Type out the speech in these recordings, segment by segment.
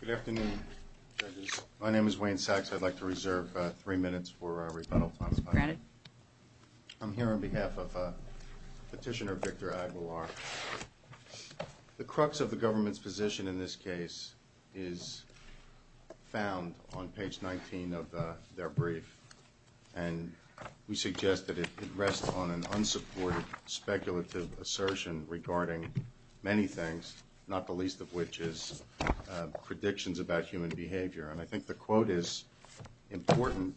Good afternoon, judges. My name is Wayne Sachs. I'd like to reserve three minutes for our rebuttal time. I'm here on behalf of Petitioner Victor Aguilar. The crux of the government's position in this case is found on page 19 of their brief, and we suggest that it rests on an unsupported speculative assertion regarding many things, not the least of which is predictions about human behavior. And I think the quote is important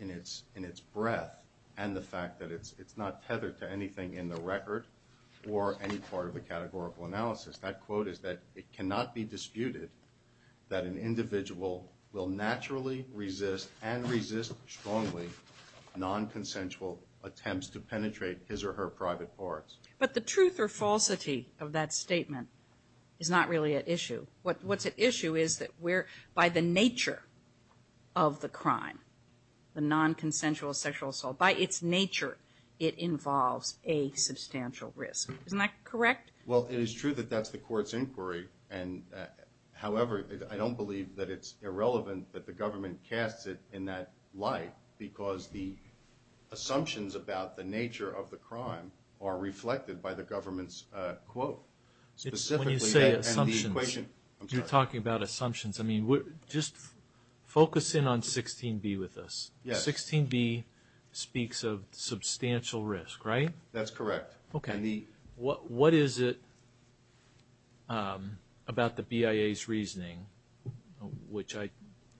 in its breadth and the fact that it's not tethered to anything in the record or any part of the categorical analysis. That quote is that it cannot be disputed that an individual will naturally resist and resist strongly nonconsensual attempts to penetrate his or her private parts. But the truth or falsity of that statement is not really at issue. What's at issue is that by the nature of the crime, the nonconsensual sexual assault, by its nature it involves a substantial risk. Isn't that correct? Well, it is true that that's the court's inquiry. However, I don't believe that it's irrelevant that the government casts it in that light because the assumptions about the nature of the crime are reflected by the government's quote. When you say assumptions, you're talking about assumptions. Just focus in on 16b with us. 16b speaks of substantial risk, right? That's correct. Okay. What is it about the BIA's reasoning, which I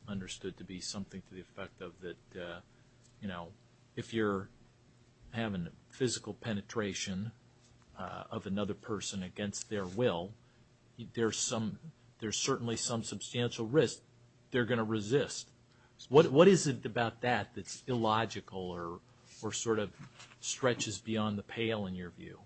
understood to be something to the effect of that, you know, if you're having physical penetration of another person against their will, there's certainly some substantial risk they're going to resist. What is it about that that's illogical or sort of stretches beyond the pale in your view?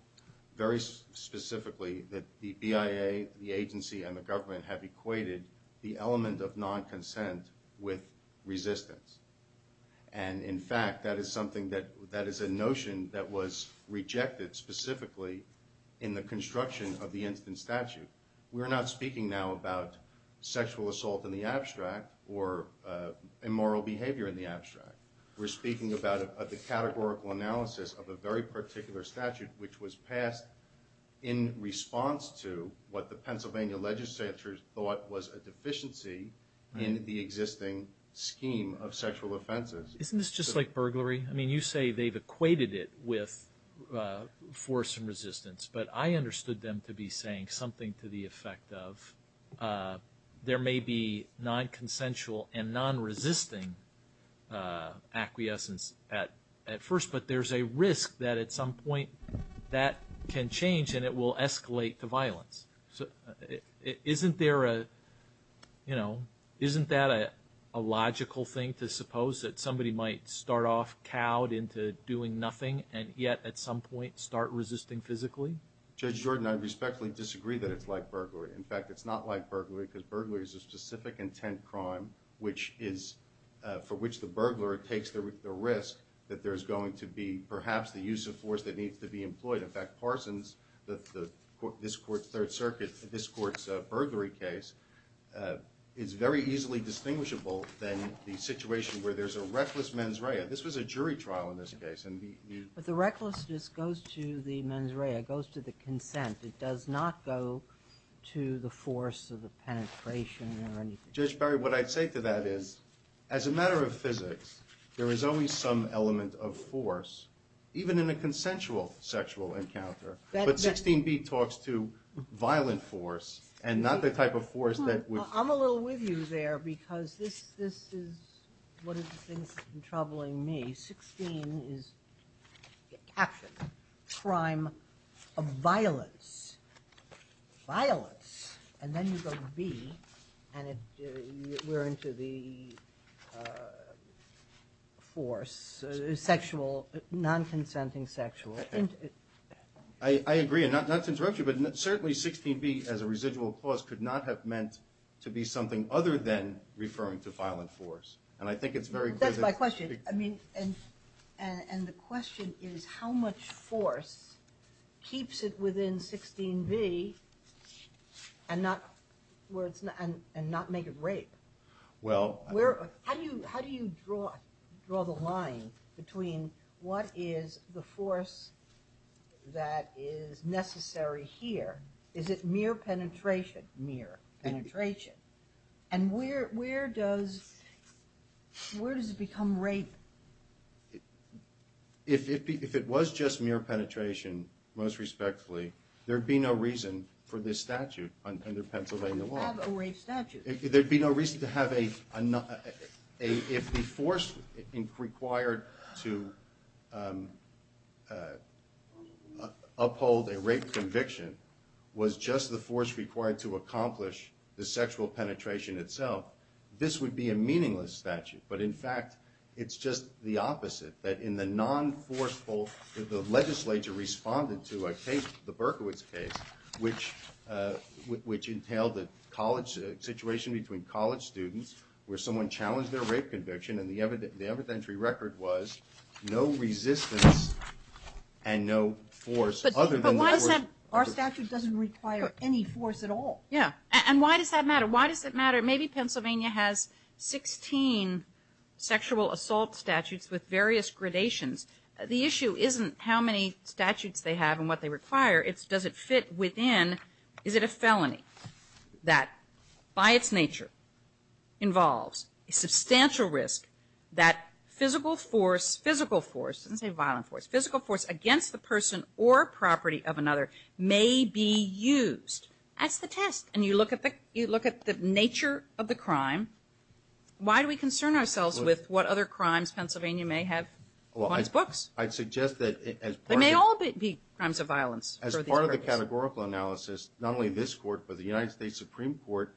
Very specifically that the BIA, the agency, and the government have equated the element of nonconsent with resistance. And in fact, that is something that is a notion that was rejected specifically in the construction of the instant statute. We're not speaking now about sexual assault in the abstract or immoral behavior in the abstract. We're speaking about the categorical analysis of a very particular statute, which was passed in response to what the Pennsylvania legislature thought was a deficiency in the existing scheme of sexual offenses. Isn't this just like burglary? I mean, you say they've equated it with force and resistance, but I understood them to be saying something to the effect of there may be nonconsensual and nonresisting acquiescence at first, but there's a risk that at some point that can change and it will escalate to violence. Isn't there a, you know, isn't that a logical thing to suppose that somebody might start off cowed into doing nothing and yet at some point start resisting physically? Judge Jordan, I respectfully disagree that it's like burglary. In fact, it's not like burglary because burglary is a specific intent crime for which the burglar takes the risk that there is going to be perhaps the use of force that needs to be employed. In fact, Parsons, this court's third circuit, this court's burglary case, is very easily distinguishable than the situation where there's a reckless mens rea. This was a jury trial in this case. But the recklessness goes to the mens rea, goes to the consent. It does not go to the force of the penetration or anything. Judge Barry, what I'd say to that is as a matter of physics, there is always some element of force even in a consensual sexual encounter. But 16b talks to violent force and not the type of force that would... I'm a little with you there because this is one of the things that's been troubling me. 16 is action, crime of violence, violence, and then you go to b and we're into the force, sexual, non-consenting sexual. I agree, and not to interrupt you, but certainly 16b as a residual clause could not have meant to be something other than referring to violent force. That's my question, and the question is how much force keeps it within 16b and not make it rape? How do you draw the line between what is the force that is necessary here? Is it mere penetration? And where does it become rape? If it was just mere penetration, most respectfully, there'd be no reason for this statute under Pennsylvania law. There'd be no reason to have a... If the force required to uphold a rape conviction was just the force required to accomplish the sexual penetration itself, this would be a meaningless statute. But in fact, it's just the opposite, that in the non-forceful... The legislature responded to the Berkowitz case, which entailed a situation between college students where someone challenged their rape conviction, and the evidentiary record was no resistance and no force other than... But why does that... Our statute doesn't require any force at all. Yeah, and why does that matter? Why does it matter? Maybe Pennsylvania has 16 sexual assault statutes with various gradations. The issue isn't how many statutes they have and what they require. It's does it fit within... That by its nature involves a substantial risk that physical force, physical force, I didn't say violent force, physical force against the person or property of another may be used. That's the test. And you look at the nature of the crime, why do we concern ourselves with what other crimes Pennsylvania may have on its books? I'd suggest that as part of... They may all be crimes of violence. As part of the categorical analysis, not only this court but the United States Supreme Court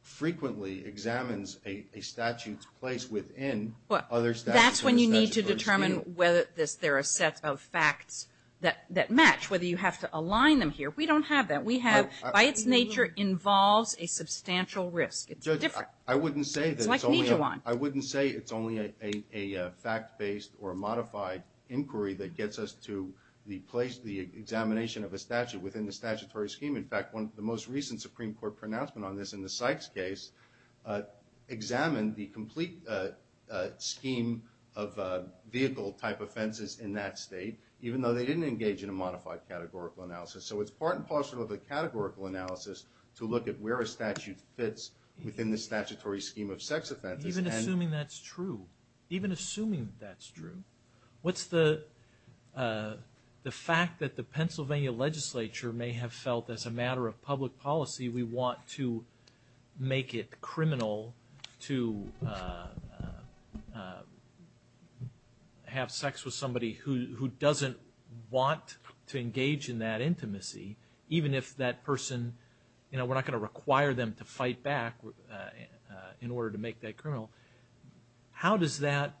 frequently examines a statute's place within other statutes in the statutory scheme. That's when you need to determine whether there are sets of facts that match, whether you have to align them here. We don't have that. We have by its nature involves a substantial risk. It's different. I wouldn't say that it's only a fact-based or modified inquiry that gets us to the place, the examination of a statute within the statutory scheme. In fact, the most recent Supreme Court pronouncement on this in the Sykes case examined the complete scheme of vehicle-type offenses in that state even though they didn't engage in a modified categorical analysis. So it's part and parcel of the categorical analysis to look at where a statute fits within the statutory scheme of sex offenses. Even assuming that's true, even assuming that's true, what's the fact that the Pennsylvania legislature may have felt as a matter of public policy we want to make it criminal to have sex with somebody who doesn't want to engage in that intimacy even if that person, you know, we're not going to require them to fight back in order to make that criminal. How does that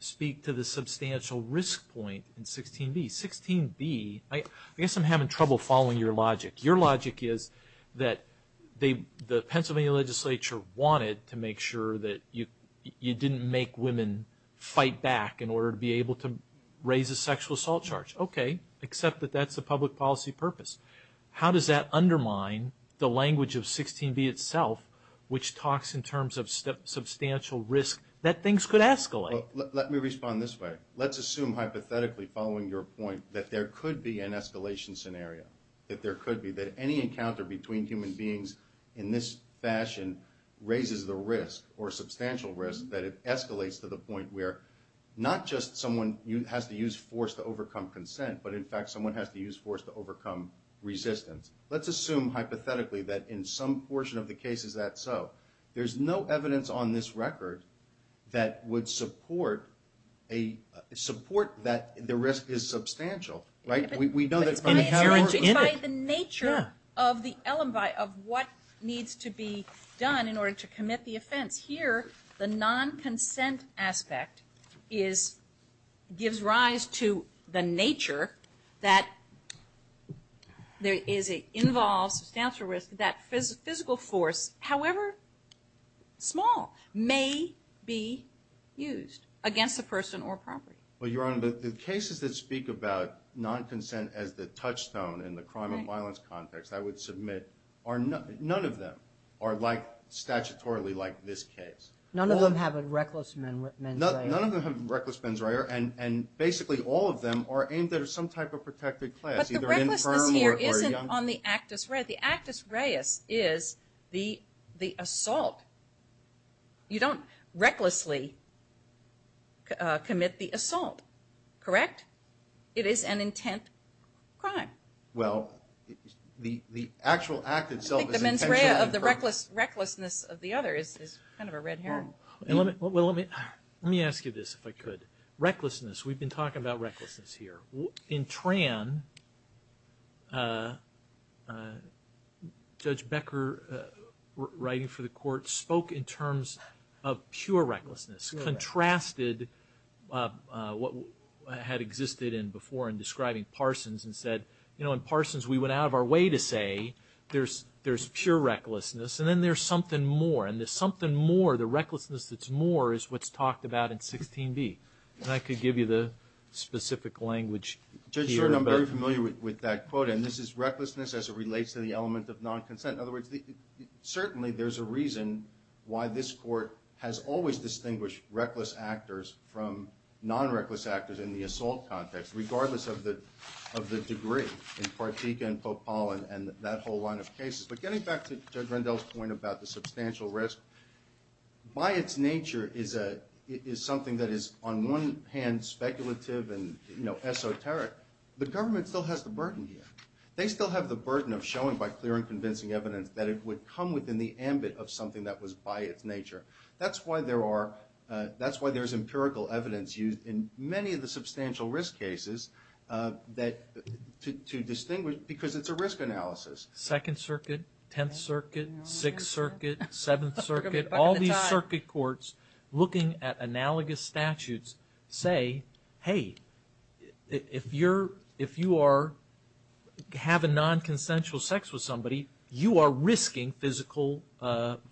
speak to the substantial risk point in 16B? 16B, I guess I'm having trouble following your logic. Your logic is that the Pennsylvania legislature wanted to make sure that you didn't make women fight back in order to be able to raise a sexual assault charge. Okay, except that that's a public policy purpose. How does that undermine the language of 16B itself which talks in terms of substantial risk that things could escalate? Let me respond this way. Let's assume hypothetically, following your point, that there could be an escalation scenario, that there could be, that any encounter between human beings in this fashion raises the risk or substantial risk that it escalates to the point where not just someone has to use force to overcome consent, but in fact someone has to use force to overcome resistance. Let's assume hypothetically that in some portion of the cases that's so. There's no evidence on this record that would support that the risk is substantial. It's by the nature of the elembi, of what needs to be done in order to commit the offense. Here, the non-consent aspect gives rise to the nature that it involves substantial risk, that physical force, however small, may be used against a person or property. Well, Your Honor, the cases that speak about non-consent as the touchstone in the crime and violence context, I would submit none of them are statutorily like this case. None of them have a reckless mens rea. None of them have a reckless mens rea, and basically all of them are aimed at some type of protected class. But the recklessness here isn't on the actus rea. The actus reis is the assault. You don't recklessly commit the assault, correct? It is an intent crime. Well, the actual act itself is intentional. I think the mens rea of the recklessness of the other is kind of a red herring. Well, let me ask you this, if I could. Recklessness, we've been talking about recklessness here. In Tran, Judge Becker, writing for the court, spoke in terms of pure recklessness, contrasted what had existed before in describing Parsons and said, you know, in Parsons we went out of our way to say there's pure recklessness, and then there's something more, and the something more, the recklessness that's more, is what's talked about in 16b. If I could give you the specific language here. Judge Stern, I'm very familiar with that quote, and this is recklessness as it relates to the element of non-consent. In other words, certainly there's a reason why this court has always distinguished reckless actors from non-reckless actors in the assault context, regardless of the degree, in Partika and Popal and that whole line of cases. But getting back to Judge Rendell's point about the substantial risk, by its nature is something that is on one hand speculative and esoteric. The government still has the burden here. They still have the burden of showing by clear and convincing evidence that it would come within the ambit of something that was by its nature. That's why there's empirical evidence used in many of the substantial risk cases to distinguish, because it's a risk analysis. Second Circuit, Tenth Circuit, Sixth Circuit, Seventh Circuit, all these circuit courts looking at analogous statutes say, hey, if you are having non-consensual sex with somebody, you are risking physical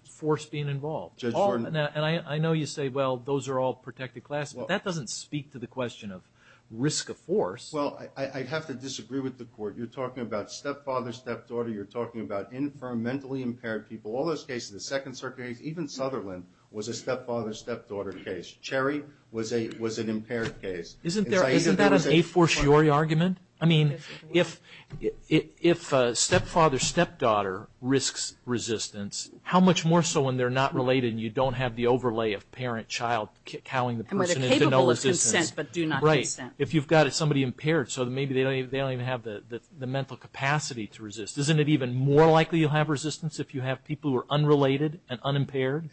force being involved. Judge Jordan. And I know you say, well, those are all protected classes, but that doesn't speak to the question of risk of force. Well, I have to disagree with the court. You're talking about stepfather, stepdaughter. You're talking about infirm, mentally impaired people. All those cases, the Second Circuit case, even Sutherland was a stepfather, stepdaughter case. Cherry was an impaired case. Isn't that an a-for-sure argument? I mean, if a stepfather, stepdaughter risks resistance, how much more so when they're not related and you don't have the overlay of parent, child, howling the person into no resistance. And where they're capable of consent but do not consent. Right. If you've got somebody impaired, so maybe they don't even have the mental capacity to resist. Isn't it even more likely you'll have resistance if you have people who are unrelated and unimpaired?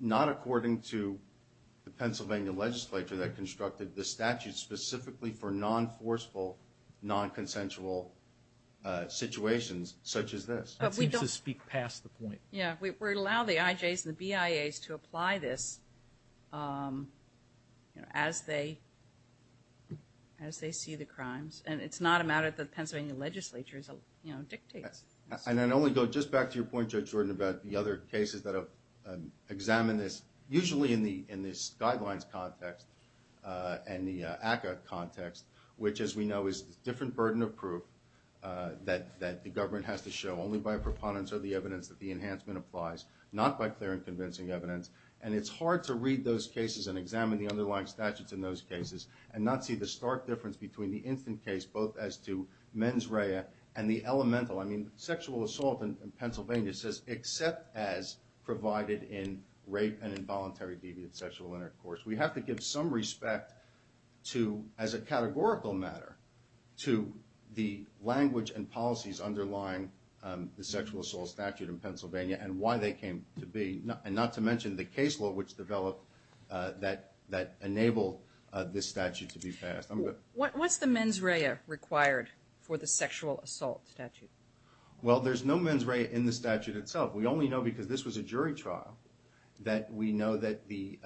Not according to the Pennsylvania legislature that constructed the statute specifically for non-forceful, non-consensual situations such as this. That seems to speak past the point. Yeah, we allow the IJs and the BIAs to apply this as they see the crimes. And it's not a matter that the Pennsylvania legislature dictates. And I'd only go just back to your point, Judge Jordan, about the other cases that have examined this, usually in this guidelines context and the ACCA context, which, as we know, is a different burden of proof that the government has to show only by a preponderance of the evidence that the enhancement applies, not by clear and convincing evidence. And it's hard to read those cases and examine the underlying statutes in those cases and not see the stark difference between the instant case, both as to mens rea and the elemental. I mean, sexual assault in Pennsylvania says except as provided in rape and involuntary deviant sexual intercourse. We have to give some respect to, as a categorical matter, to the language and policies underlying the sexual assault statute in Pennsylvania and why they came to be, and not to mention the case law which developed that enabled this statute to be passed. What's the mens rea required for the sexual assault statute? Well, there's no mens rea in the statute itself. We only know because this was a jury trial that we know that the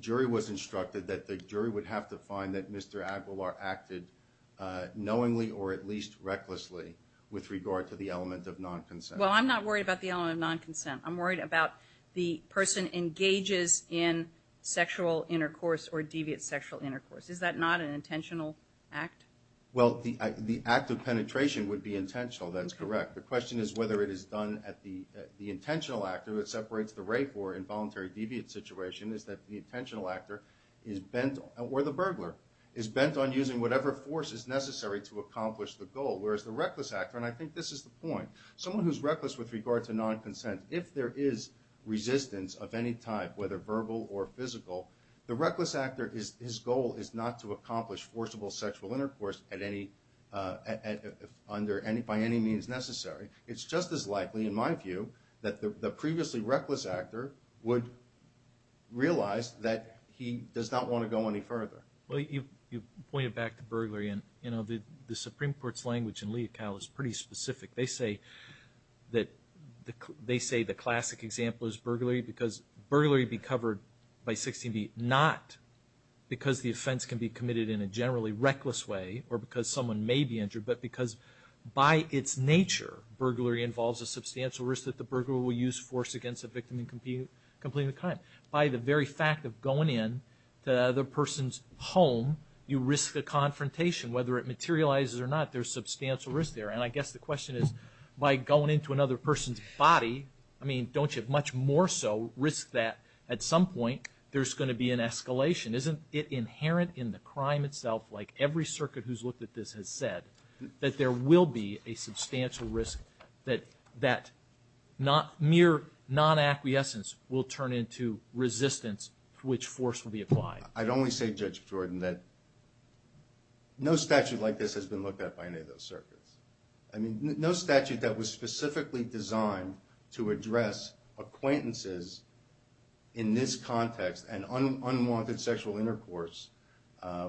jury was instructed that the jury would have to find that Mr. Aguilar acted knowingly or at least recklessly with regard to the element of non-consent. Well, I'm not worried about the element of non-consent. I'm worried about the person engages in sexual intercourse or deviant sexual intercourse. Is that not an intentional act? Well, the act of penetration would be intentional. That's correct. The question is whether it is done at the intentional actor that separates the rape or involuntary deviant situation is that the intentional actor or the burglar is bent on using whatever force is necessary to accomplish the goal, whereas the reckless actor, and I think this is the point, someone who's reckless with regard to non-consent, if there is resistance of any type, whether verbal or physical, the reckless actor, his goal is not to accomplish forcible sexual intercourse by any means necessary. It's just as likely, in my view, that the previously reckless actor would realize that he does not want to go any further. Well, you've pointed back to burglary, and the Supreme Court's language in Lee et al. is pretty specific. They say the classic example is burglary because burglary would be covered by 16b, not because the offense can be committed in a generally reckless way or because someone may be injured, but because by its nature, burglary involves a substantial risk that the burglar will use force against the victim in complete and time. By the very fact of going into the other person's home, you risk a confrontation. Whether it materializes or not, there's substantial risk there, and I guess the question is, by going into another person's body, I mean, don't you much more so risk that at some point there's going to be an escalation? Isn't it inherent in the crime itself, like every circuit who's looked at this has said, that there will be a substantial risk that mere non-acquiescence will turn into resistance to which force will be applied? I'd only say, Judge Jordan, that no statute like this has been looked at by any of those circuits. I mean, no statute that was specifically designed to address acquaintances in this context and unwanted sexual intercourse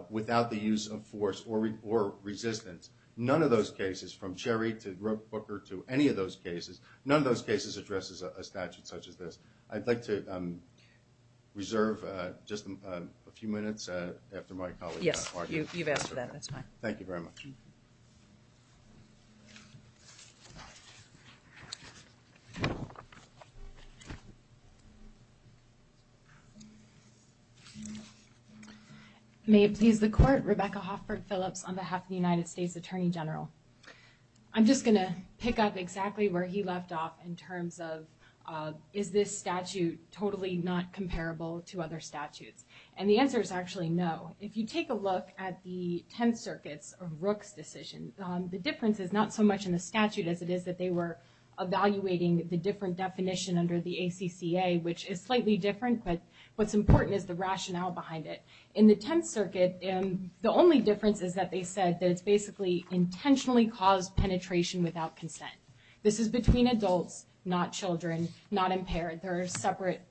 without the use of force or resistance. None of those cases, from Cherry to Brooker to any of those cases, none of those cases addresses a statute such as this. I'd like to reserve just a few minutes after my colleague. Yes, you've asked for that, that's fine. Thank you very much. May it please the Court. Rebecca Hoffberg Phillips on behalf of the United States Attorney General. I'm just going to pick up exactly where he left off in terms of, is this statute totally not comparable to other statutes? And the answer is actually no. If you take a look at the 10th Circuit's or Rook's decision, the difference is not so much in the statute as it is that they were evaluating the different definition under the ACCA, which is slightly different, but what's important is the rationale behind it. In the 10th Circuit, the only difference is that they said that it's basically intentionally caused penetration without consent. This is between adults, not children, not impaired. There are separate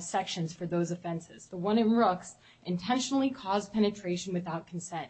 sections for those offenses. The one in Rook's, intentionally caused penetration without consent.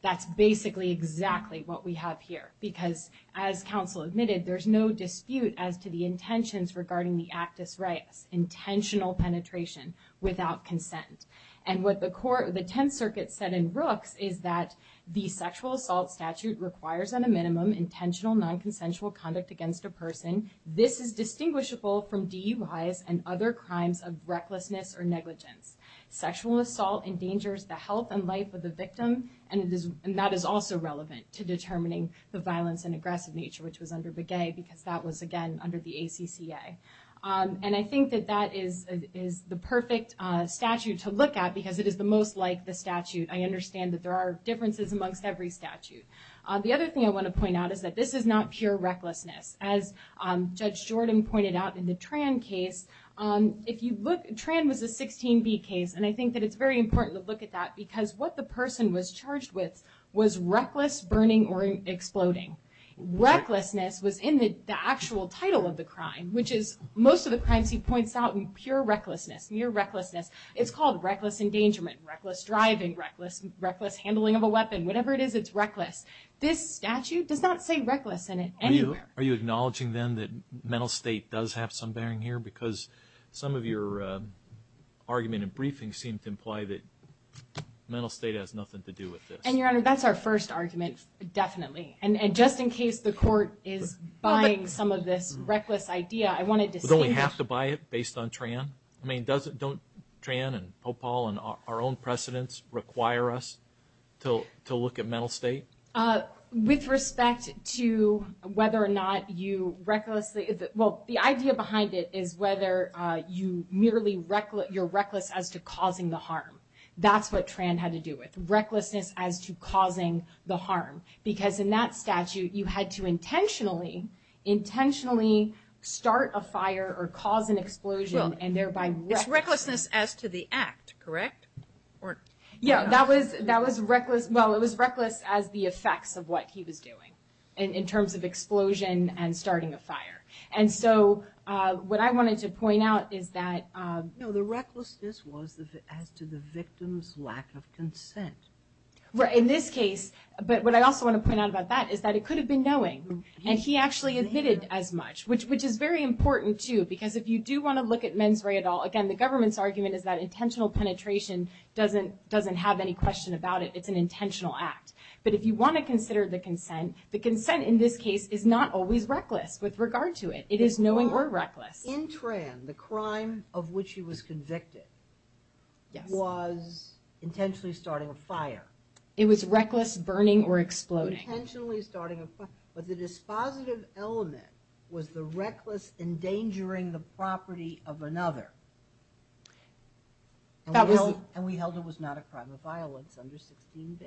That's basically exactly what we have here because as counsel admitted, there's no dispute as to the intentions regarding the actus reus, intentional penetration without consent. And what the 10th Circuit said in Rook's is that the sexual assault statute requires on a minimum, intentional non-consensual conduct against a person. This is distinguishable from DUI's and other crimes of recklessness or negligence. Sexual assault endangers the health and life of the victim, and that is also relevant to determining the violence and aggressive nature, which was under Begay, because that was, again, under the ACCA. And I think that that is the perfect statute to look at because it is the most like the statute. I understand that there are differences amongst every statute. The other thing I want to point out is that this is not pure recklessness. As Judge Jordan pointed out in the Tran case, if you look, Tran was a 16B case, and I think that it's very important to look at that because what the person was charged with was reckless burning or exploding. Recklessness was in the actual title of the crime, which is most of the crimes he points out in pure recklessness, near recklessness. It's called reckless engagement, reckless driving, reckless handling of a weapon. Whatever it is, it's reckless. This statute does not say reckless in it anywhere. Are you acknowledging, then, that mental state does have some bearing here because some of your argument in briefing seemed to imply that mental state has nothing to do with this. And, Your Honor, that's our first argument, definitely. And just in case the Court is buying some of this reckless idea, I wanted to say that. But don't we have to buy it based on Tran? I mean, don't Tran and Popal and our own precedents require us to look at mental state? With respect to whether or not you recklessly, well, the idea behind it is whether you're reckless as to causing the harm. That's what Tran had to do with, recklessness as to causing the harm. Because in that statute, you had to intentionally, intentionally start a fire or cause an explosion, and thereby reckless. It's recklessness as to the act, correct? Yeah, that was reckless. Well, it was reckless as the effects of what he was doing in terms of explosion and starting a fire. And so, what I wanted to point out is that... No, the recklessness was as to the victim's lack of consent. Right, in this case. But what I also want to point out about that is that it could have been knowing. And he actually admitted as much, which is very important, too. Because if you do want to look at mens re at all, again, the government's argument is that intentional penetration doesn't have any question about it. It's an intentional act. But if you want to consider the consent, the consent in this case is not always reckless with regard to it. It is knowing or reckless. In Tran, the crime of which he was convicted was intentionally starting a fire. It was reckless burning or exploding. Intentionally starting a fire. But the dispositive element was the reckless endangering the property of another. And we held it was not a crime of violence under 16b.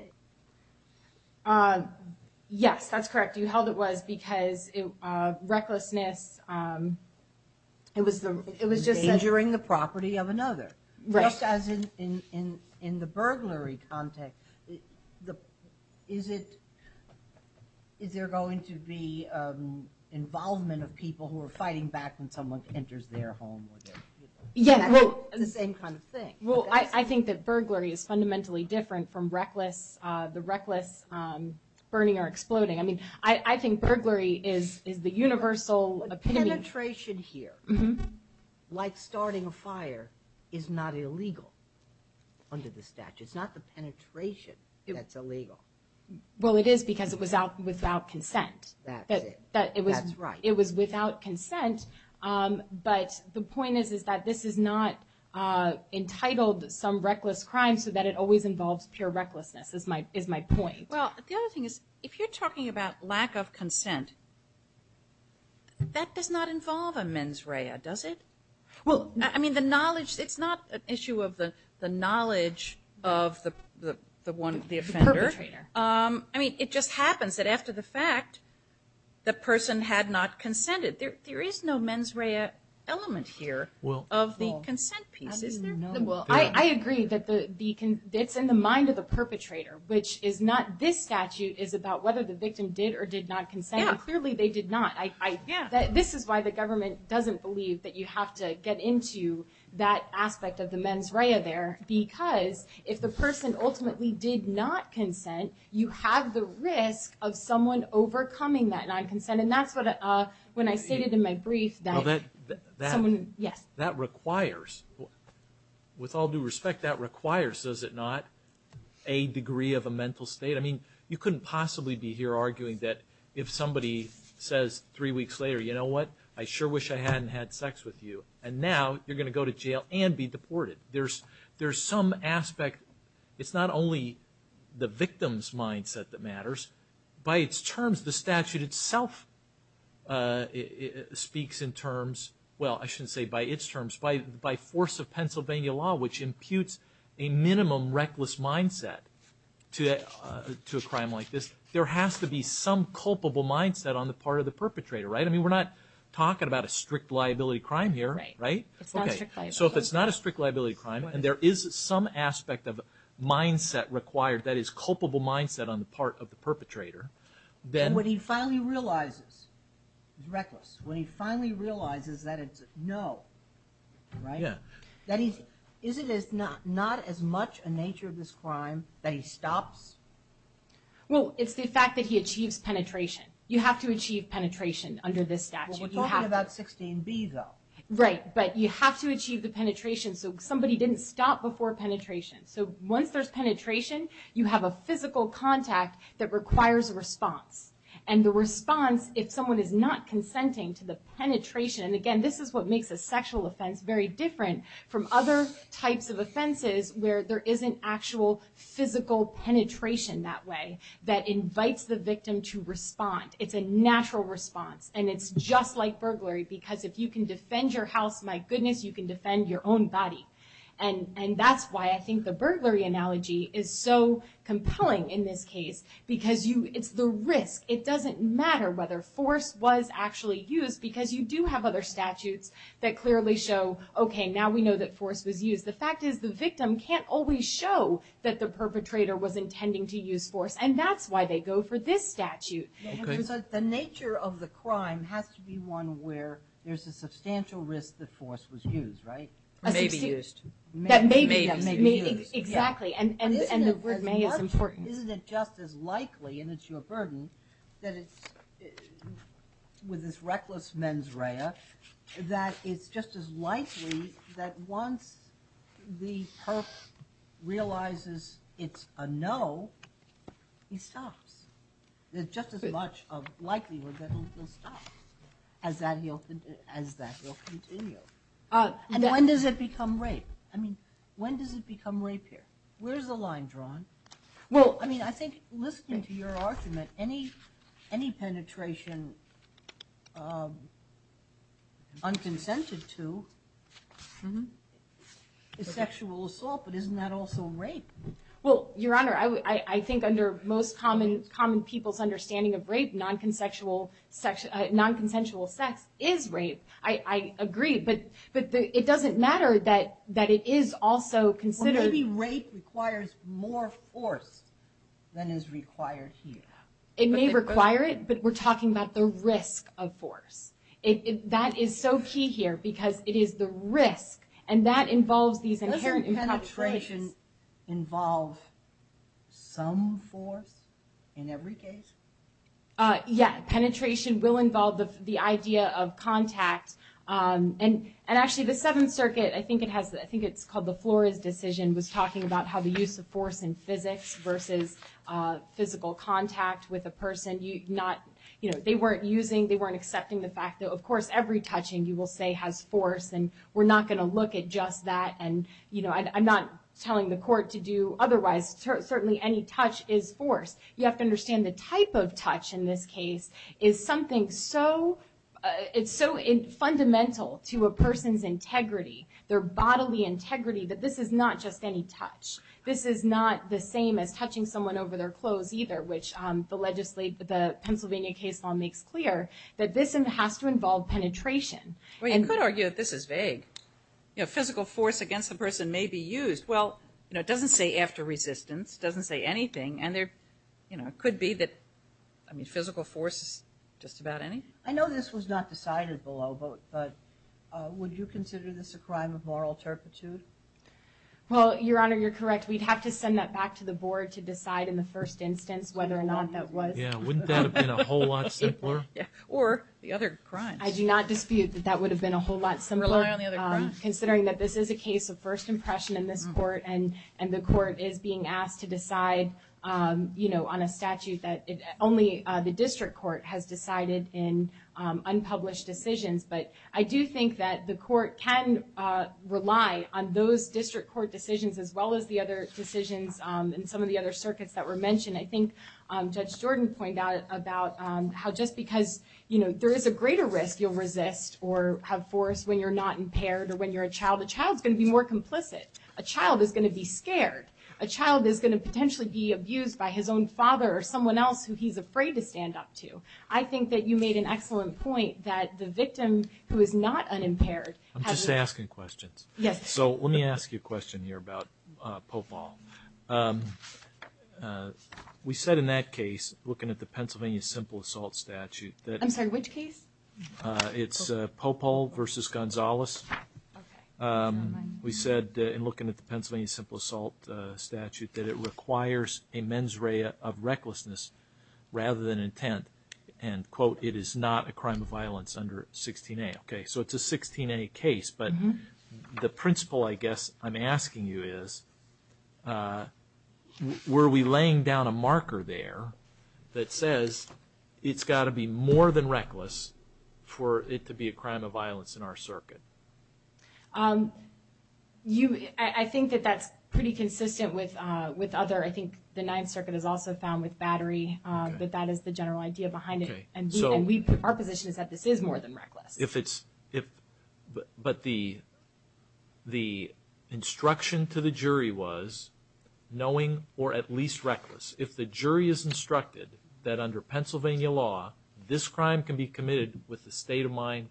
Yes, that's correct. You held it was because recklessness... Endangering the property of another. Right. Just as in the burglary context, is there going to be involvement of people who are fighting back when someone enters their home? The same kind of thing. Well, I think that burglary is fundamentally different from the reckless burning or exploding. I mean, I think burglary is the universal epitome. But penetration here, like starting a fire, is not illegal under the statute. It's not the penetration that's illegal. Well, it is because it was without consent. That's it. That's right. It was without consent. But the point is that this is not entitled some reckless crime so that it always involves pure recklessness, is my point. Well, the other thing is, if you're talking about lack of consent, that does not involve a mens rea, does it? Well, I mean, the knowledge... It's not an issue of the knowledge of the offender. The perpetrator. I mean, it just happens that after the fact, the person had not consented. There is no mens rea element here of the consent piece, is there? Well, I agree that it's in the mind of the perpetrator, which is not... This statute is about whether the victim did or did not consent. Clearly, they did not. This is why the government doesn't believe that you have to get into that aspect of the mens rea there because if the person ultimately did not consent, you have the risk of someone overcoming that non-consent. And that's what... When I stated in my brief that... Well, that... Someone... Yes. That requires... With all due respect, that requires, does it not, a degree of a mental state? I mean, you couldn't possibly be here arguing that if somebody says three weeks later, you know what, I sure wish I hadn't had sex with you, and now you're going to go to jail and be deported. There's some aspect. It's not only the victim's mindset that matters. By its terms, the statute itself speaks in terms... Well, I shouldn't say by its terms. By force of Pennsylvania law, which imputes a minimum reckless mindset to a crime like this, there has to be some culpable mindset on the part of the perpetrator, right? I mean, we're not talking about a strict liability crime here, right? Right. It's not strict liability. So if it's not a strict liability crime, and there is some aspect of a mindset required that is culpable mindset on the part of the perpetrator, then... And when he finally realizes, reckless, when he finally realizes that it's a no, right? Yeah. That he's... Is it not as much a nature of this crime that he stops? Well, it's the fact that he achieves penetration. You have to achieve penetration under this statute. Well, we're talking about 16b, though. Right. But you have to achieve the penetration, so somebody didn't stop before penetration. So once there's penetration, you have a physical contact that requires a response. And the response, if someone is not consenting to the penetration... And again, this is what makes a sexual offense very different from other types of offenses where there isn't actual physical penetration that way It's a natural response. And it's just like burglary, because if you can defend your house, my goodness, you can defend your own body. And that's why I think the burglary analogy is so compelling in this case, because it's the risk. It doesn't matter whether force was actually used, because you do have other statutes that clearly show, okay, now we know that force was used. The fact is the victim can't always show that the perpetrator was intending to use force, and that's why they go for this statute. So the nature of the crime has to be one where there's a substantial risk that force was used, right? Or may be used. That may be used. Exactly, and the word may is important. Isn't it just as likely, and it's your burden, that it's with this reckless mens rea, that it's just as likely that once the perp realizes it's a no, he stops. There's just as much likelihood that he'll stop as that will continue. When does it become rape? I mean, when does it become rape here? Where's the line drawn? Well, I mean, I think listening to your argument, any penetration unconsented to is sexual assault, but isn't that also rape? Well, Your Honor, I think under most common people's understanding of rape, non-consensual sex is rape. I agree, but it doesn't matter that it is also considered... Well, maybe rape requires more force than is required here. It may require it, but we're talking about the risk of force. That is so key here because it is the risk, and that involves these inherent... Doesn't penetration involve some force in every case? Yeah, penetration will involve the idea of contact, and actually the Seventh Circuit, I think it's called the Flores Decision, was talking about how the use of force in physics versus physical contact with a person, they weren't using, they weren't accepting the fact that, of course, every touching, you will say, has force, and we're not going to look at just that, and I'm not telling the court to do otherwise. Certainly any touch is force. You have to understand the type of touch in this case is something so... It's so fundamental to a person's integrity, their bodily integrity, that this is not just any touch. This is not the same as touching someone over their clothes either, which the Pennsylvania case law makes clear, that this has to involve penetration. Well, you could argue that this is vague. Physical force against the person may be used. Well, it doesn't say after resistance, it doesn't say anything, and there could be that... I mean, physical force is just about anything. I know this was not decided below, but would you consider this a crime of moral turpitude? Well, Your Honor, you're correct. We'd have to send that back to the board to decide in the first instance whether or not that was. Yeah, wouldn't that have been a whole lot simpler? Or the other crimes. I do not dispute that that would have been a whole lot simpler, considering that this is a case of first impression in this court, and the court is being asked to decide on a statute that only the district court has decided in unpublished decisions. But I do think that the court can rely on those district court decisions as well as the other decisions in some of the other circuits that were mentioned. I think Judge Jordan pointed out about how just because there is a greater risk you'll resist or have force when you're not impaired or when you're a child, a child's going to be more complicit. A child is going to be scared. A child is going to potentially be abused by his own father or someone else who he's afraid to stand up to. I think that you made an excellent point that the victim who is not unimpaired... I'm just asking questions. Yes. So let me ask you a question here about Popal. We said in that case, looking at the Pennsylvania Simple Assault Statute... I'm sorry, which case? It's Popal v. Gonzalez. Okay. We said in looking at the Pennsylvania Simple Assault Statute that it requires a mens rea of recklessness rather than intent, and, quote, it is not a crime of violence under 16A. Okay, so it's a 16A case, but the principle, I guess, I'm asking you is were we laying down a marker there that says it's got to be more than reckless for it to be a crime of violence in our circuit? I think that that's pretty consistent with other... I think the Ninth Circuit has also found with battery that that is the general idea behind it, and our position is that this is more than reckless. But the instruction to the jury was knowing or at least reckless. If the jury is instructed that under Pennsylvania law this crime can be committed with a state of mind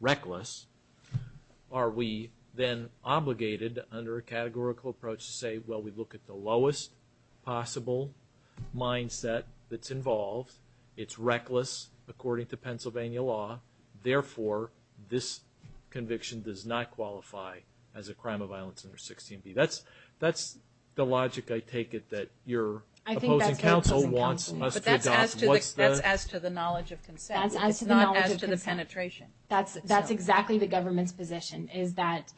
reckless, are we then obligated under a categorical approach to say, well, we look at the lowest possible mindset that's involved, it's reckless according to Pennsylvania law, therefore this conviction does not qualify as a crime of violence under 16B. That's the logic I take it that your opposing counsel wants us to adopt. But that's as to the knowledge of consent. It's not as to the penetration. That's exactly the government's position, is that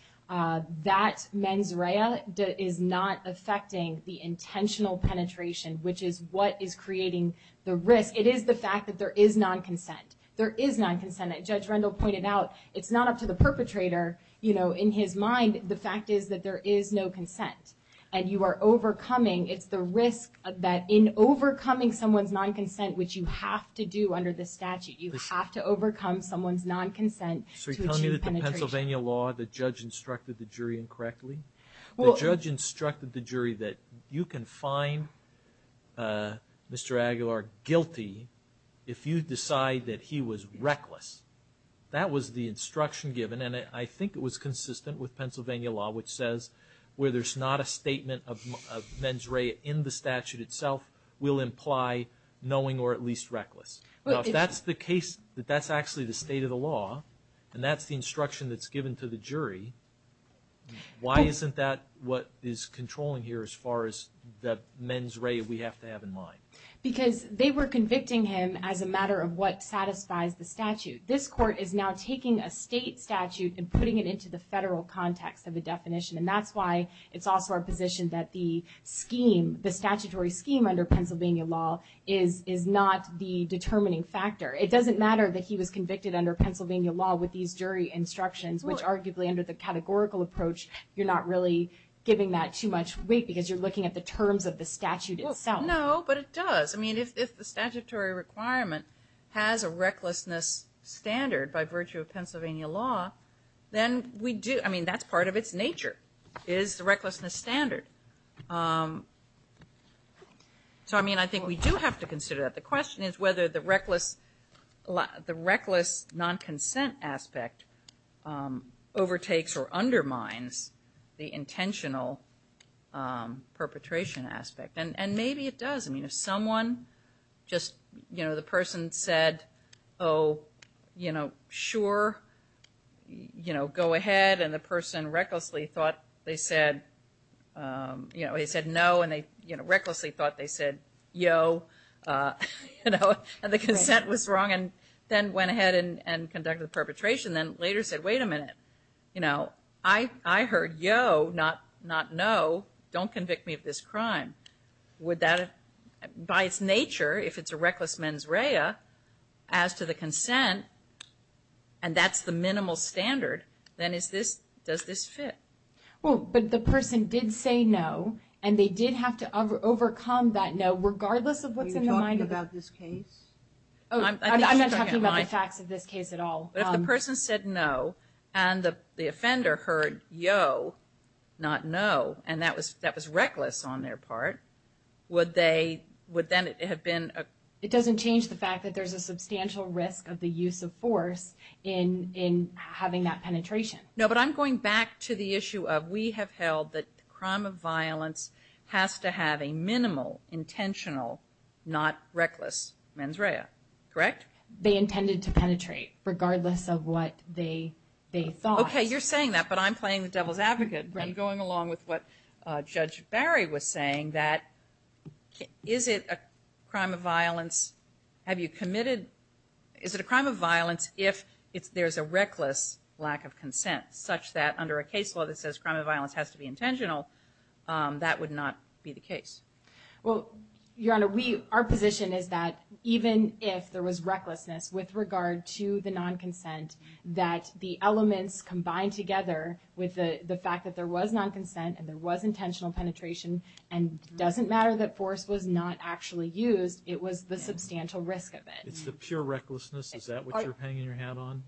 that mens rea is not affecting the intentional penetration, which is what is creating the risk. It is the fact that there is non-consent. There is non-consent. As Judge Rendell pointed out, it's not up to the perpetrator. In his mind, the fact is that there is no consent, and you are overcoming. It's the risk that in overcoming someone's non-consent, which you have to do under the statute, you have to overcome someone's non-consent to achieve penetration. So you're telling me that the Pennsylvania law, the judge instructed the jury incorrectly? The judge instructed the jury that you can find Mr. Aguilar guilty if you decide that he was reckless. That was the instruction given, and I think it was consistent with Pennsylvania law, which says where there's not a statement of mens rea in the statute itself will imply knowing or at least reckless. Now, if that's the case, that that's actually the state of the law, and that's the instruction that's given to the jury, why isn't that what is controlling here as far as the mens rea we have to have in mind? Because they were convicting him as a matter of what satisfies the statute. This court is now taking a state statute and putting it into the federal context of the definition, and that's why it's also our position that the scheme, the statutory scheme under Pennsylvania law, is not the determining factor. It doesn't matter that he was convicted under Pennsylvania law with these jury instructions, which arguably under the categorical approach, you're not really giving that too much weight because you're looking at the terms of the statute itself. No, but it does. I mean, if the statutory requirement has a recklessness standard by virtue of Pennsylvania law, then we do. I mean, that's part of its nature is the recklessness standard. So, I mean, I think we do have to consider that. The question is whether the reckless non-consent aspect overtakes or undermines the intentional perpetration aspect. And maybe it does. I mean, if someone just, you know, the person said, oh, you know, sure, you know, go ahead, and the person recklessly thought they said, you know, he said no and they, you know, recklessly thought they said yo, you know, and the consent was wrong and then went ahead and conducted the perpetration and then later said, wait a minute, you know, I heard yo, not no, don't convict me of this crime. Would that, by its nature, if it's a reckless mens rea, as to the consent, and that's the minimal standard, then is this, does this fit? Well, but the person did say no, and they did have to overcome that no, regardless of what's in the mind of it. Are you talking about this case? I'm not talking about the facts of this case at all. But if the person said no and the offender heard yo, not no, and that was reckless on their part, would they, would then it have been a... It doesn't change the fact that there's a substantial risk of the use of force in having that penetration. No, but I'm going back to the issue of we have held that the crime of violence has to have a minimal, intentional, not reckless mens rea, correct? They intended to penetrate, regardless of what they thought. Okay, you're saying that, but I'm playing the devil's advocate. Right. I'm going along with what Judge Barry was saying, that is it a crime of violence, have you committed, is it a crime of violence if there's a reckless lack of consent, such that under a case law that says crime of violence has to be intentional, that would not be the case? Well, Your Honor, we, our position is that even if there was recklessness with regard to the non-consent, that the elements combined together with the fact that there was non-consent and there was intentional penetration and doesn't matter that force was not actually used, it was the substantial risk of it. It's the pure recklessness, is that what you're hanging your hat on?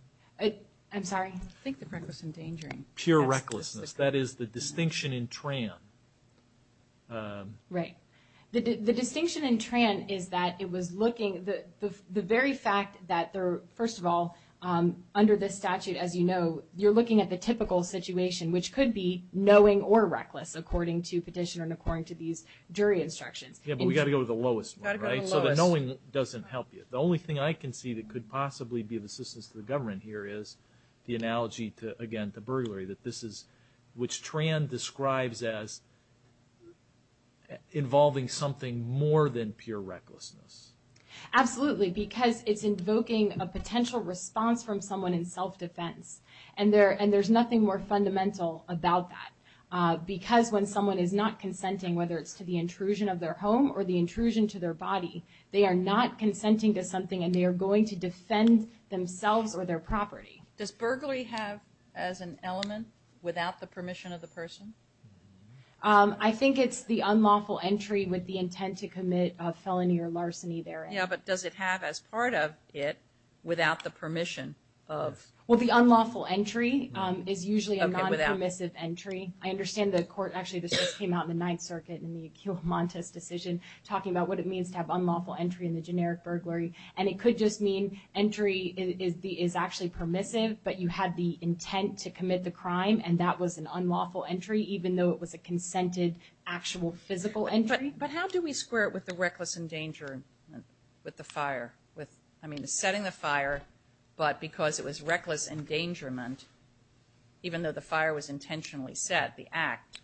I'm sorry? I think the reckless endangering. Pure recklessness, that is the distinction in TRAN. Right. The distinction in TRAN is that it was looking, the very fact that, first of all, under the statute, as you know, you're looking at the typical situation, which could be knowing or reckless, according to petition and according to these jury instructions. Yeah, but we've got to go to the lowest one, right? Got to go to the lowest. So the knowing doesn't help you. The only thing I can see that could possibly be of assistance to the government here is the analogy, again, to burglary, that this is, which TRAN describes as involving something more than pure recklessness. Absolutely, because it's invoking a potential response from someone in self-defense, and there's nothing more fundamental about that. Because when someone is not consenting, whether it's to the intrusion of their home or the intrusion to their body, they are not consenting to something and they are going to defend themselves or their property. Does burglary have as an element, without the permission of the person? I think it's the unlawful entry with the intent to commit a felony or larceny therein. Yeah, but does it have as part of it, without the permission of... Well, the unlawful entry is usually a non-permissive entry. I understand the court, actually this just came out in the Ninth Circuit in the Accio Montes decision, talking about what it means to have unlawful entry in the generic burglary. And it could just mean entry is actually permissive, but you had the intent to commit the crime and that was an unlawful entry, even though it was a consented actual physical entry. But how do we square it with the reckless endangerment with the fire? I mean, setting the fire, but because it was reckless endangerment, even though the fire was intentionally set, the act,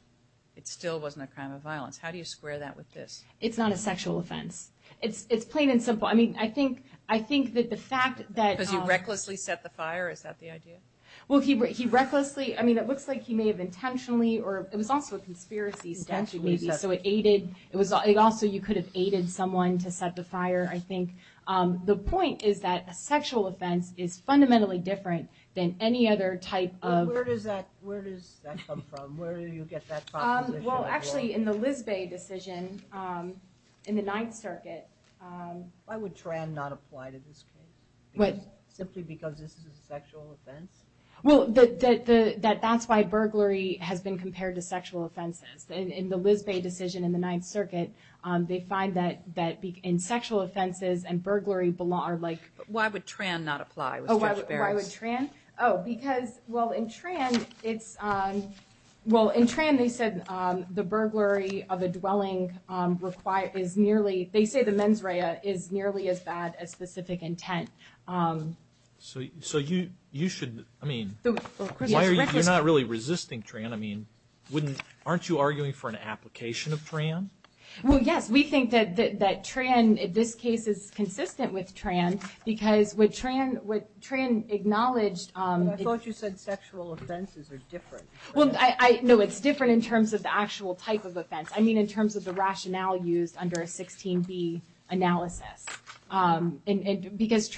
it still wasn't a crime of violence. How do you square that with this? It's not a sexual offense. It's plain and simple. I mean, I think that the fact that... Because you recklessly set the fire, is that the idea? Well, he recklessly, I mean, it looks like he may have intentionally, or it was also a conspiracy. Intentionally set the fire. So it aided, it was also, you could have aided someone to set the fire, I think. The point is that a sexual offense is fundamentally different than any other type of... Where does that come from? Where do you get that proposition? Well, actually, in the Lizbey decision, in the Ninth Circuit... Why would Tran not apply to this case? Simply because this is a sexual offense? Well, that's why burglary has been compared to sexual offenses. In the Lizbey decision in the Ninth Circuit, they find that in sexual offenses, and burglary are like... But why would Tran not apply? Oh, why would Tran? Oh, because, well, in Tran, it's... The burglary of a dwelling is nearly... They say the mens rea is nearly as bad as specific intent. So you should... I mean, why are you not really resisting Tran? I mean, aren't you arguing for an application of Tran? Well, yes, we think that Tran, this case is consistent with Tran, because what Tran acknowledged... But I thought you said sexual offenses are different. Well, no, it's different in terms of the actual type of offense. I mean, in terms of the rationale used under a 16b analysis. Because,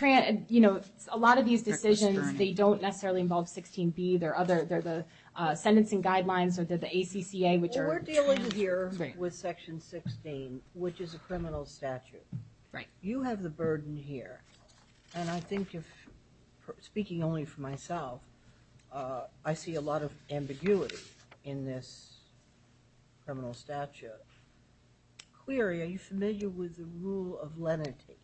you know, a lot of these decisions, they don't necessarily involve 16b. They're the sentencing guidelines, or they're the ACCA, which are... Well, we're dealing here with Section 16, which is a criminal statute. You have the burden here. And I think, speaking only for myself, I see a lot of ambiguity in this criminal statute. Cleary, are you familiar with the rule of lenity?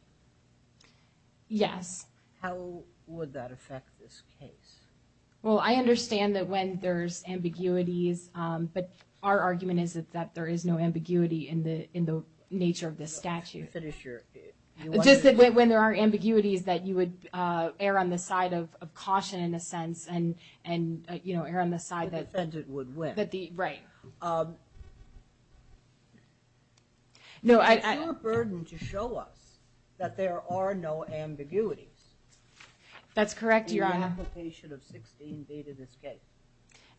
Yes. How would that affect this case? Well, I understand that when there's ambiguities... But our argument is that there is no ambiguity in the nature of this statute. Finish your... Just that when there are ambiguities, that you would err on the side of caution, in a sense, and, you know, err on the side that... The defendant would win. Right. No, I... Is there a burden to show us that there are no ambiguities... That's correct, Your Honor. ...in the application of 16b to this case?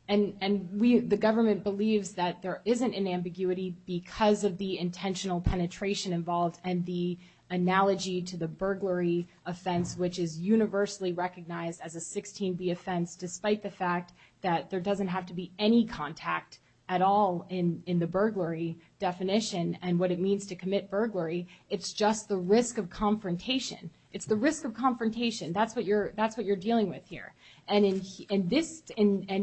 And the government believes that there isn't an ambiguity because of the intentional penetration involved and the analogy to the burglary offense, which is universally recognized as a 16b offense, despite the fact that there doesn't have to be any contact at all in the burglary definition and what it means to commit burglary. It's just the risk of confrontation. It's the risk of confrontation. That's what you're dealing with here. And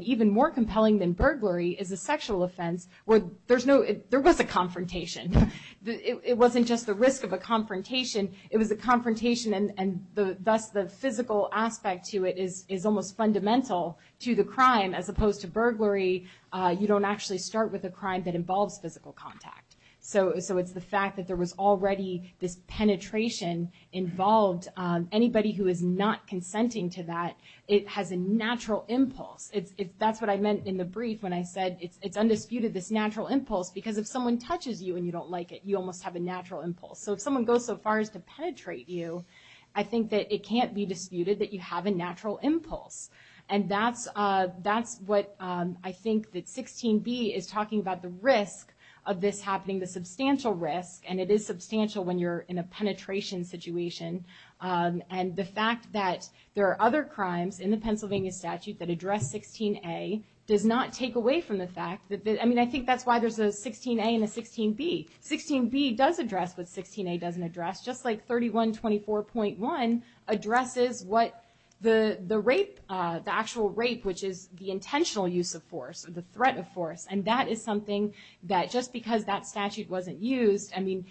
even more compelling than burglary is a sexual offense where there was a confrontation. It wasn't just the risk of a confrontation. It was a confrontation and thus the physical aspect to it is almost fundamental to the crime. As opposed to burglary, you don't actually start with a crime that involves physical contact. So it's the fact that there was already this penetration involved. Anybody who is not consenting to that, it has a natural impulse. That's what I meant in the brief when I said it's undisputed, this natural impulse, because if someone touches you and you don't like it, you almost have a natural impulse. So if someone goes so far as to penetrate you, I think that it can't be disputed that you have a natural impulse. And that's what I think that 16b is talking about, the risk of this happening, the substantial risk, and it is substantial when you're in a penetration situation. And the fact that there are other crimes in the Pennsylvania statute that address 16a does not take away from the fact that... I mean, I think that's why there's a 16a and a 16b. 16b does address what 16a doesn't address, just like 3124.1 addresses what the actual rape, which is the intentional use of force, or the threat of force, and that is something that just because that statute wasn't used... I mean,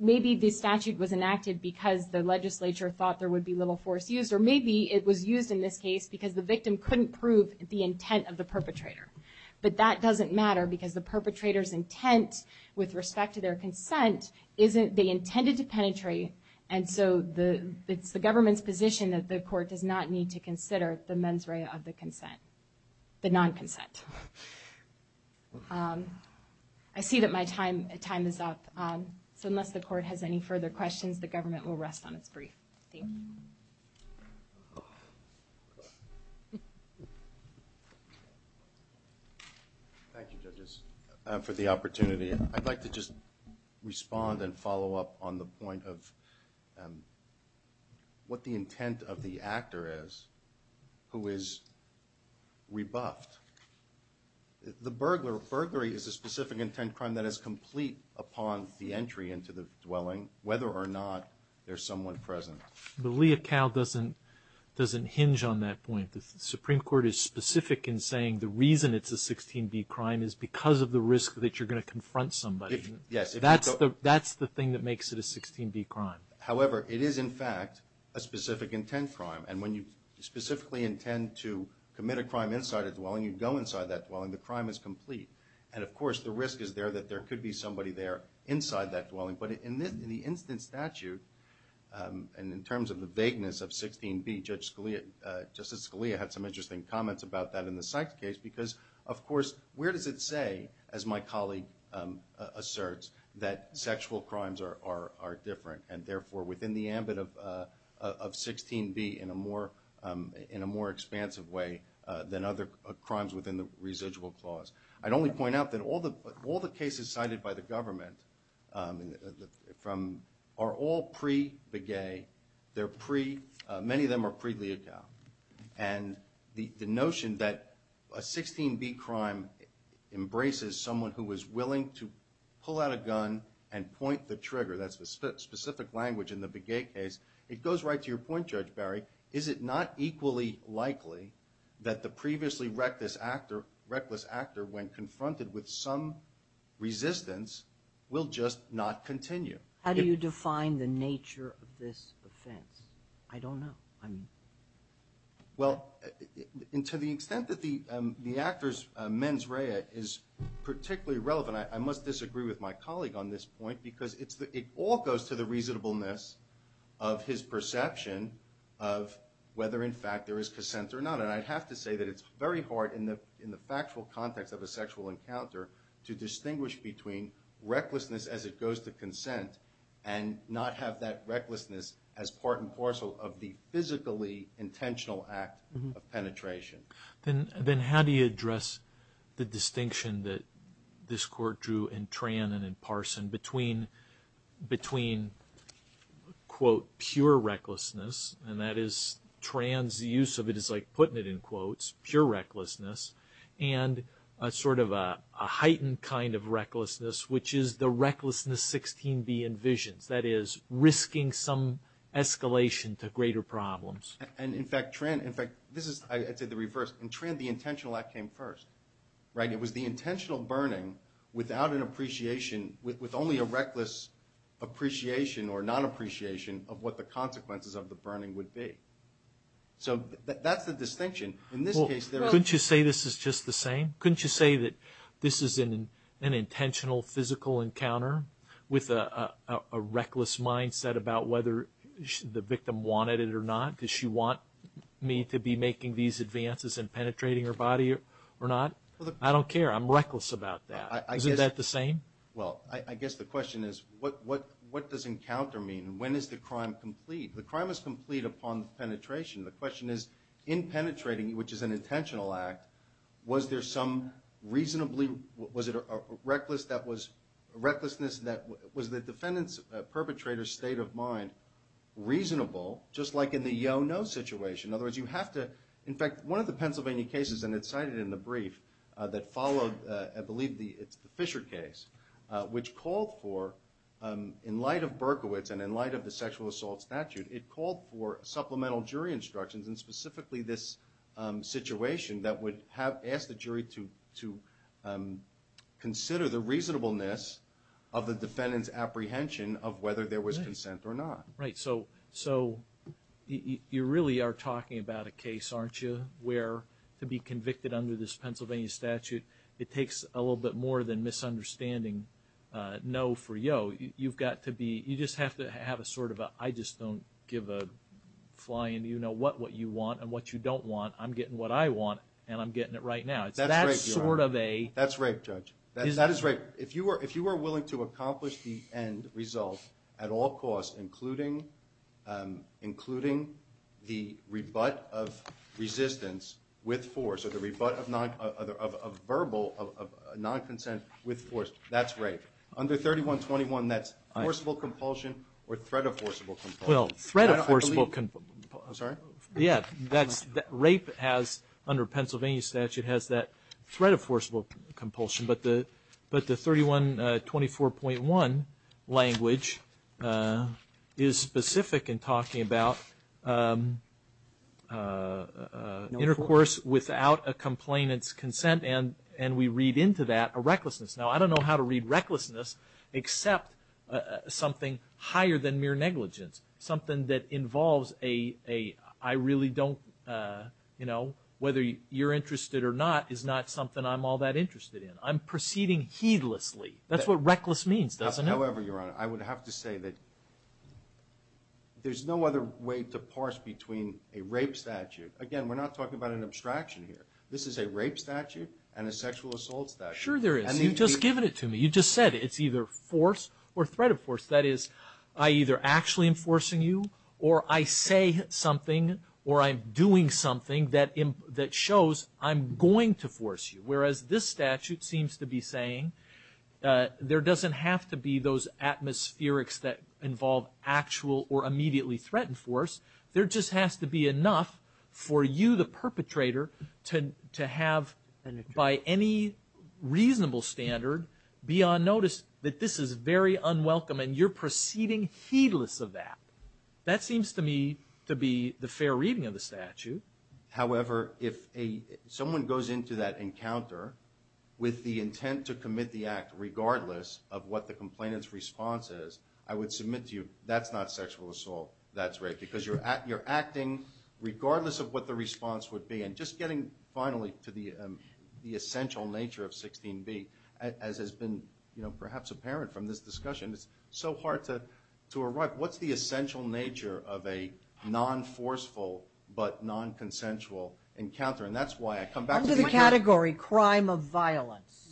maybe the statute was enacted because the legislature thought there would be little force used, or maybe it was used in this case because the victim couldn't prove the intent of the perpetrator. But that doesn't matter because the perpetrator's intent with respect to their consent, they intended to penetrate, and so it's the government's position that the court does not need to consider the mens rea of the consent, the non-consent. I see that my time is up. So unless the court has any further questions, the government will rest on its brief. Thank you. Thank you. Thank you, judges, for the opportunity. I'd like to just respond and follow up on the point of what the intent of the actor is who is rebuffed. The burglar... Burglary is a specific intent crime that is complete upon the entry into the dwelling, whether or not there's someone present. But Lee et al. doesn't hinge on that point. The Supreme Court is specific in saying the reason it's a 16b crime is because of the risk that you're going to confront somebody. That's the thing that makes it a 16b crime. However, it is, in fact, a specific intent crime, and when you specifically intend to commit a crime inside a dwelling, you go inside that dwelling, the crime is complete. And, of course, the risk is there that there could be somebody there inside that dwelling, but in the instant statute, and in terms of the vagueness of 16b, Justice Scalia had some interesting comments about that in the Sykes case because, of course, where does it say, as my colleague asserts, that sexual crimes are different, and therefore within the ambit of 16b in a more expansive way than other crimes within the residual clause? I'd only point out that all the cases cited by the government, are all pre-Begay. Many of them are pre-Leotow. And the notion that a 16b crime embraces someone who is willing to pull out a gun and point the trigger, that's the specific language in the Begay case, it goes right to your point, Judge Barry, is it not equally likely that the previously reckless actor, when confronted with some resistance, will just not continue? How do you define the nature of this offense? I don't know. Well, to the extent that the actor's mens rea is particularly relevant, I must disagree with my colleague on this point because it all goes to the reasonableness of his perception of whether, in fact, there is consent or not. And I'd have to say that it's very hard in the factual context of a sexual encounter to distinguish between recklessness as it goes to consent and not have that recklessness as part and parcel of the physically intentional act of penetration. Then how do you address the distinction that this court drew in Tran and in Parson between, quote, pure recklessness, and that is, Tran's use of it is like putting it in quotes, pure recklessness, and sort of a heightened kind of recklessness, which is the recklessness 16B envisions, that is, risking some escalation to greater problems. And, in fact, Tran... I'd say the reverse. In Tran, the intentional act came first. It was the intentional burning without an appreciation, with only a reckless appreciation or non-appreciation of what the consequences of the burning would be. So that's the distinction. In this case... Well, couldn't you say this is just the same? Couldn't you say that this is an intentional physical encounter with a reckless mindset about whether the victim wanted it or not? Does she want me to be making these advances and penetrating her body or not? I don't care. I'm reckless about that. Isn't that the same? Well, I guess the question is, what does encounter mean? When is the crime complete? The crime is complete upon penetration. The question is, in penetrating, which is an intentional act, was there some reasonably... Was it a recklessness that was... Was the defendant's perpetrator's state of mind reasonable, just like in the yo-no situation? In other words, you have to... In fact, one of the Pennsylvania cases, and it's cited in the brief, that followed, I believe it's the Fisher case, which called for, in light of Berkowitz and in light of the sexual assault statute, it called for supplemental jury instructions, and specifically this situation that would ask the jury to consider the reasonableness of the defendant's apprehension of whether there was consent or not. Right, so you really are talking about a case, aren't you, where to be convicted under this Pennsylvania statute, it takes a little bit more than misunderstanding no for yo. You've got to be... You just have to have a sort of a... I just don't give a flying... You know what you want and what you don't want. I'm getting what I want, and I'm getting it right now. That's rape, you are. That's sort of a... That's rape, Judge. That is rape. If you are willing to accomplish the end result at all costs, including the rebut of resistance with force, or the rebut of verbal non-consent with force, that's rape. Under 3121, that's forcible compulsion or threat of forcible compulsion. Well, threat of forcible compulsion... I'm sorry? Yeah, that's... Rape has, under Pennsylvania statute, has that threat of forcible compulsion, but the 3124.1 language is specific in talking about intercourse without a complainant's consent, and we read into that a recklessness. Now, I don't know how to read recklessness except something higher than mere negligence, something that involves a... I really don't... You know, whether you're interested or not is not something I'm all that interested in. I'm proceeding heedlessly. That's what reckless means, doesn't it? However, Your Honor, I would have to say that there's no other way to parse between a rape statute... Again, we're not talking about an abstraction here. This is a rape statute and a sexual assault statute. Sure there is. You've just given it to me. You just said it. It's either force or threat of force. That is, I either actually am forcing you or I say something or I'm doing something that shows I'm going to force you, whereas this statute seems to be saying there doesn't have to be those atmospherics that involve actual or immediately threatened force. There just has to be enough for you, the perpetrator, to have, by any reasonable standard, be on notice that this is very unwelcome and you're proceeding heedless of that. That seems to me to be the fair reading of the statute. However, if someone goes into that encounter with the intent to commit the act regardless of what the complainant's response is, I would submit to you that's not sexual assault. That's rape because you're acting regardless of what the response would be and just getting finally to the essential nature of 16b, as has been perhaps apparent from this discussion, it's so hard to arrive. What's the essential nature of a non-forceful but non-consensual encounter? And that's why I come back to the... Under the category crime of violence.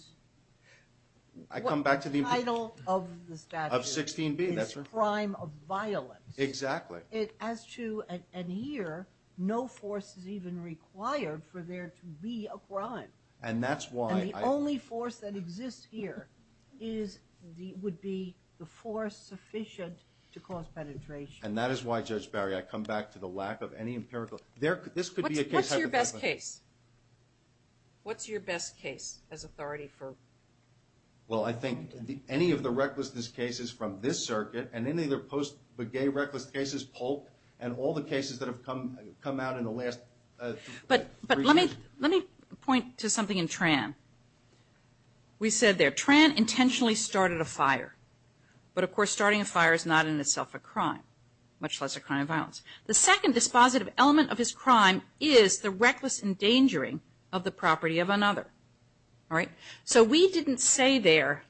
I come back to the... The title of the statute... Of 16b, that's right. ...is crime of violence. Exactly. As to... And here, no force is even required for there to be a crime. And that's why... And the only force that exists here would be the force sufficient to cause penetration. And that is why, Judge Barry, I come back to the lack of any empirical... This could be a case... What's your best case? What's your best case as authority for... Well, I think any of the recklessness cases from this circuit and any of the post-begay reckless cases, Polk and all the cases that have come out in the last... But let me point to something in Tran. We said there, Tran intentionally started a fire. But, of course, starting a fire is not in itself a crime, much less a crime of violence. The second dispositive element of his crime is the reckless endangering of the property of another. All right? So we didn't say there,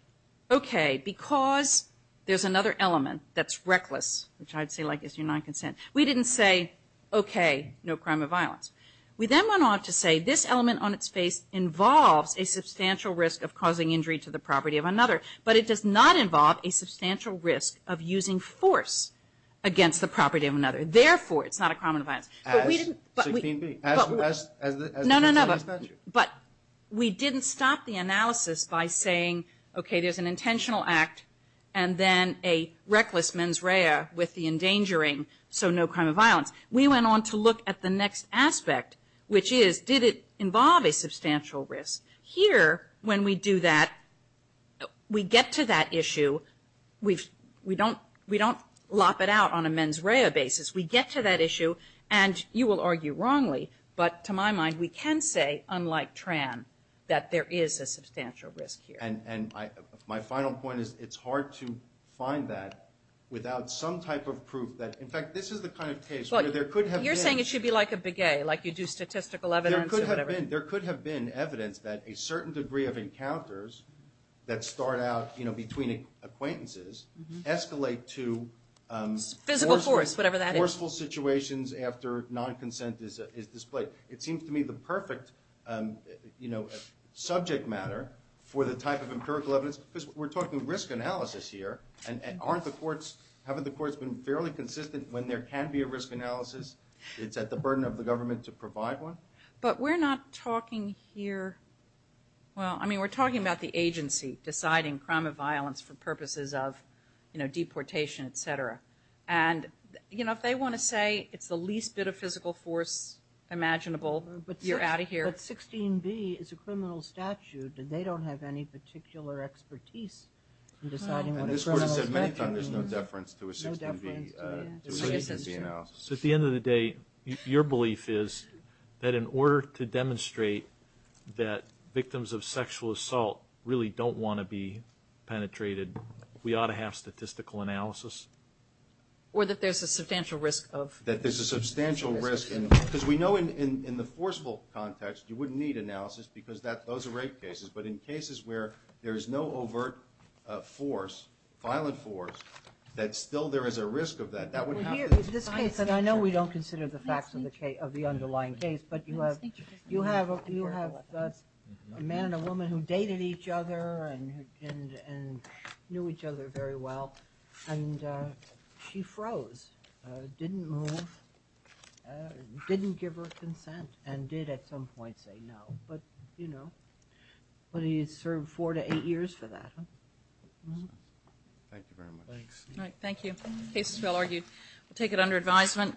okay, because there's another element that's reckless, which I'd say, like, is your non-consent. We didn't say, okay, no crime of violence. We then went on to say this element on its face involves a substantial risk of causing injury to the property of another, but it does not involve a substantial risk of using force against the property of another. Therefore, it's not a crime of violence. But we didn't... As 16b. No, no, no. But we didn't stop the analysis by saying, okay, there's an intentional act and then a reckless mens rea with the endangering, so no crime of violence. We went on to look at the next aspect, which is, did it involve a substantial risk? Here, when we do that, we get to that issue. We don't lop it out on a mens rea basis. We get to that issue, and you will argue wrongly, but to my mind, we can say, unlike Tran, that there is a substantial risk here. My final point is, it's hard to find that without some type of proof that... In fact, this is the kind of case where there could have been... You're saying it should be like a beguet, like you do statistical evidence or whatever. There could have been evidence that a certain degree of encounters that start out between acquaintances escalate to forceful situations after non-consent is displayed. It seems to me the perfect subject matter for the type of empirical evidence, because we're talking risk analysis here, and haven't the courts been fairly consistent when there can be a risk analysis? It's at the burden of the government to provide one. But we're not talking here... Well, I mean, we're talking about the agency deciding crime of violence for purposes of deportation, etc. And if they want to say it's the least bit of physical force imaginable, you're out of here. But 16B is a criminal statute, and they don't have any particular expertise in deciding what a criminal statute is. And this Court has said many times there's no deference to a 16B analysis. So at the end of the day, your belief is that in order to demonstrate that victims of sexual assault really don't want to be penetrated, we ought to have statistical analysis? Or that there's a substantial risk of... That there's a substantial risk... Because we know in the forcible context, you wouldn't need analysis, because those are rape cases. But in cases where there is no overt force, violent force, that still there is a risk of that. That wouldn't happen... In this case, and I know we don't consider the facts of the underlying case, but you have a man and a woman who dated each other and knew each other very well, and she froze, didn't move, didn't give her consent, and did at some point say no. But he served four to eight years for that. Thank you very much. Thanks. Thank you. The case is well argued. We'll take it under advisement.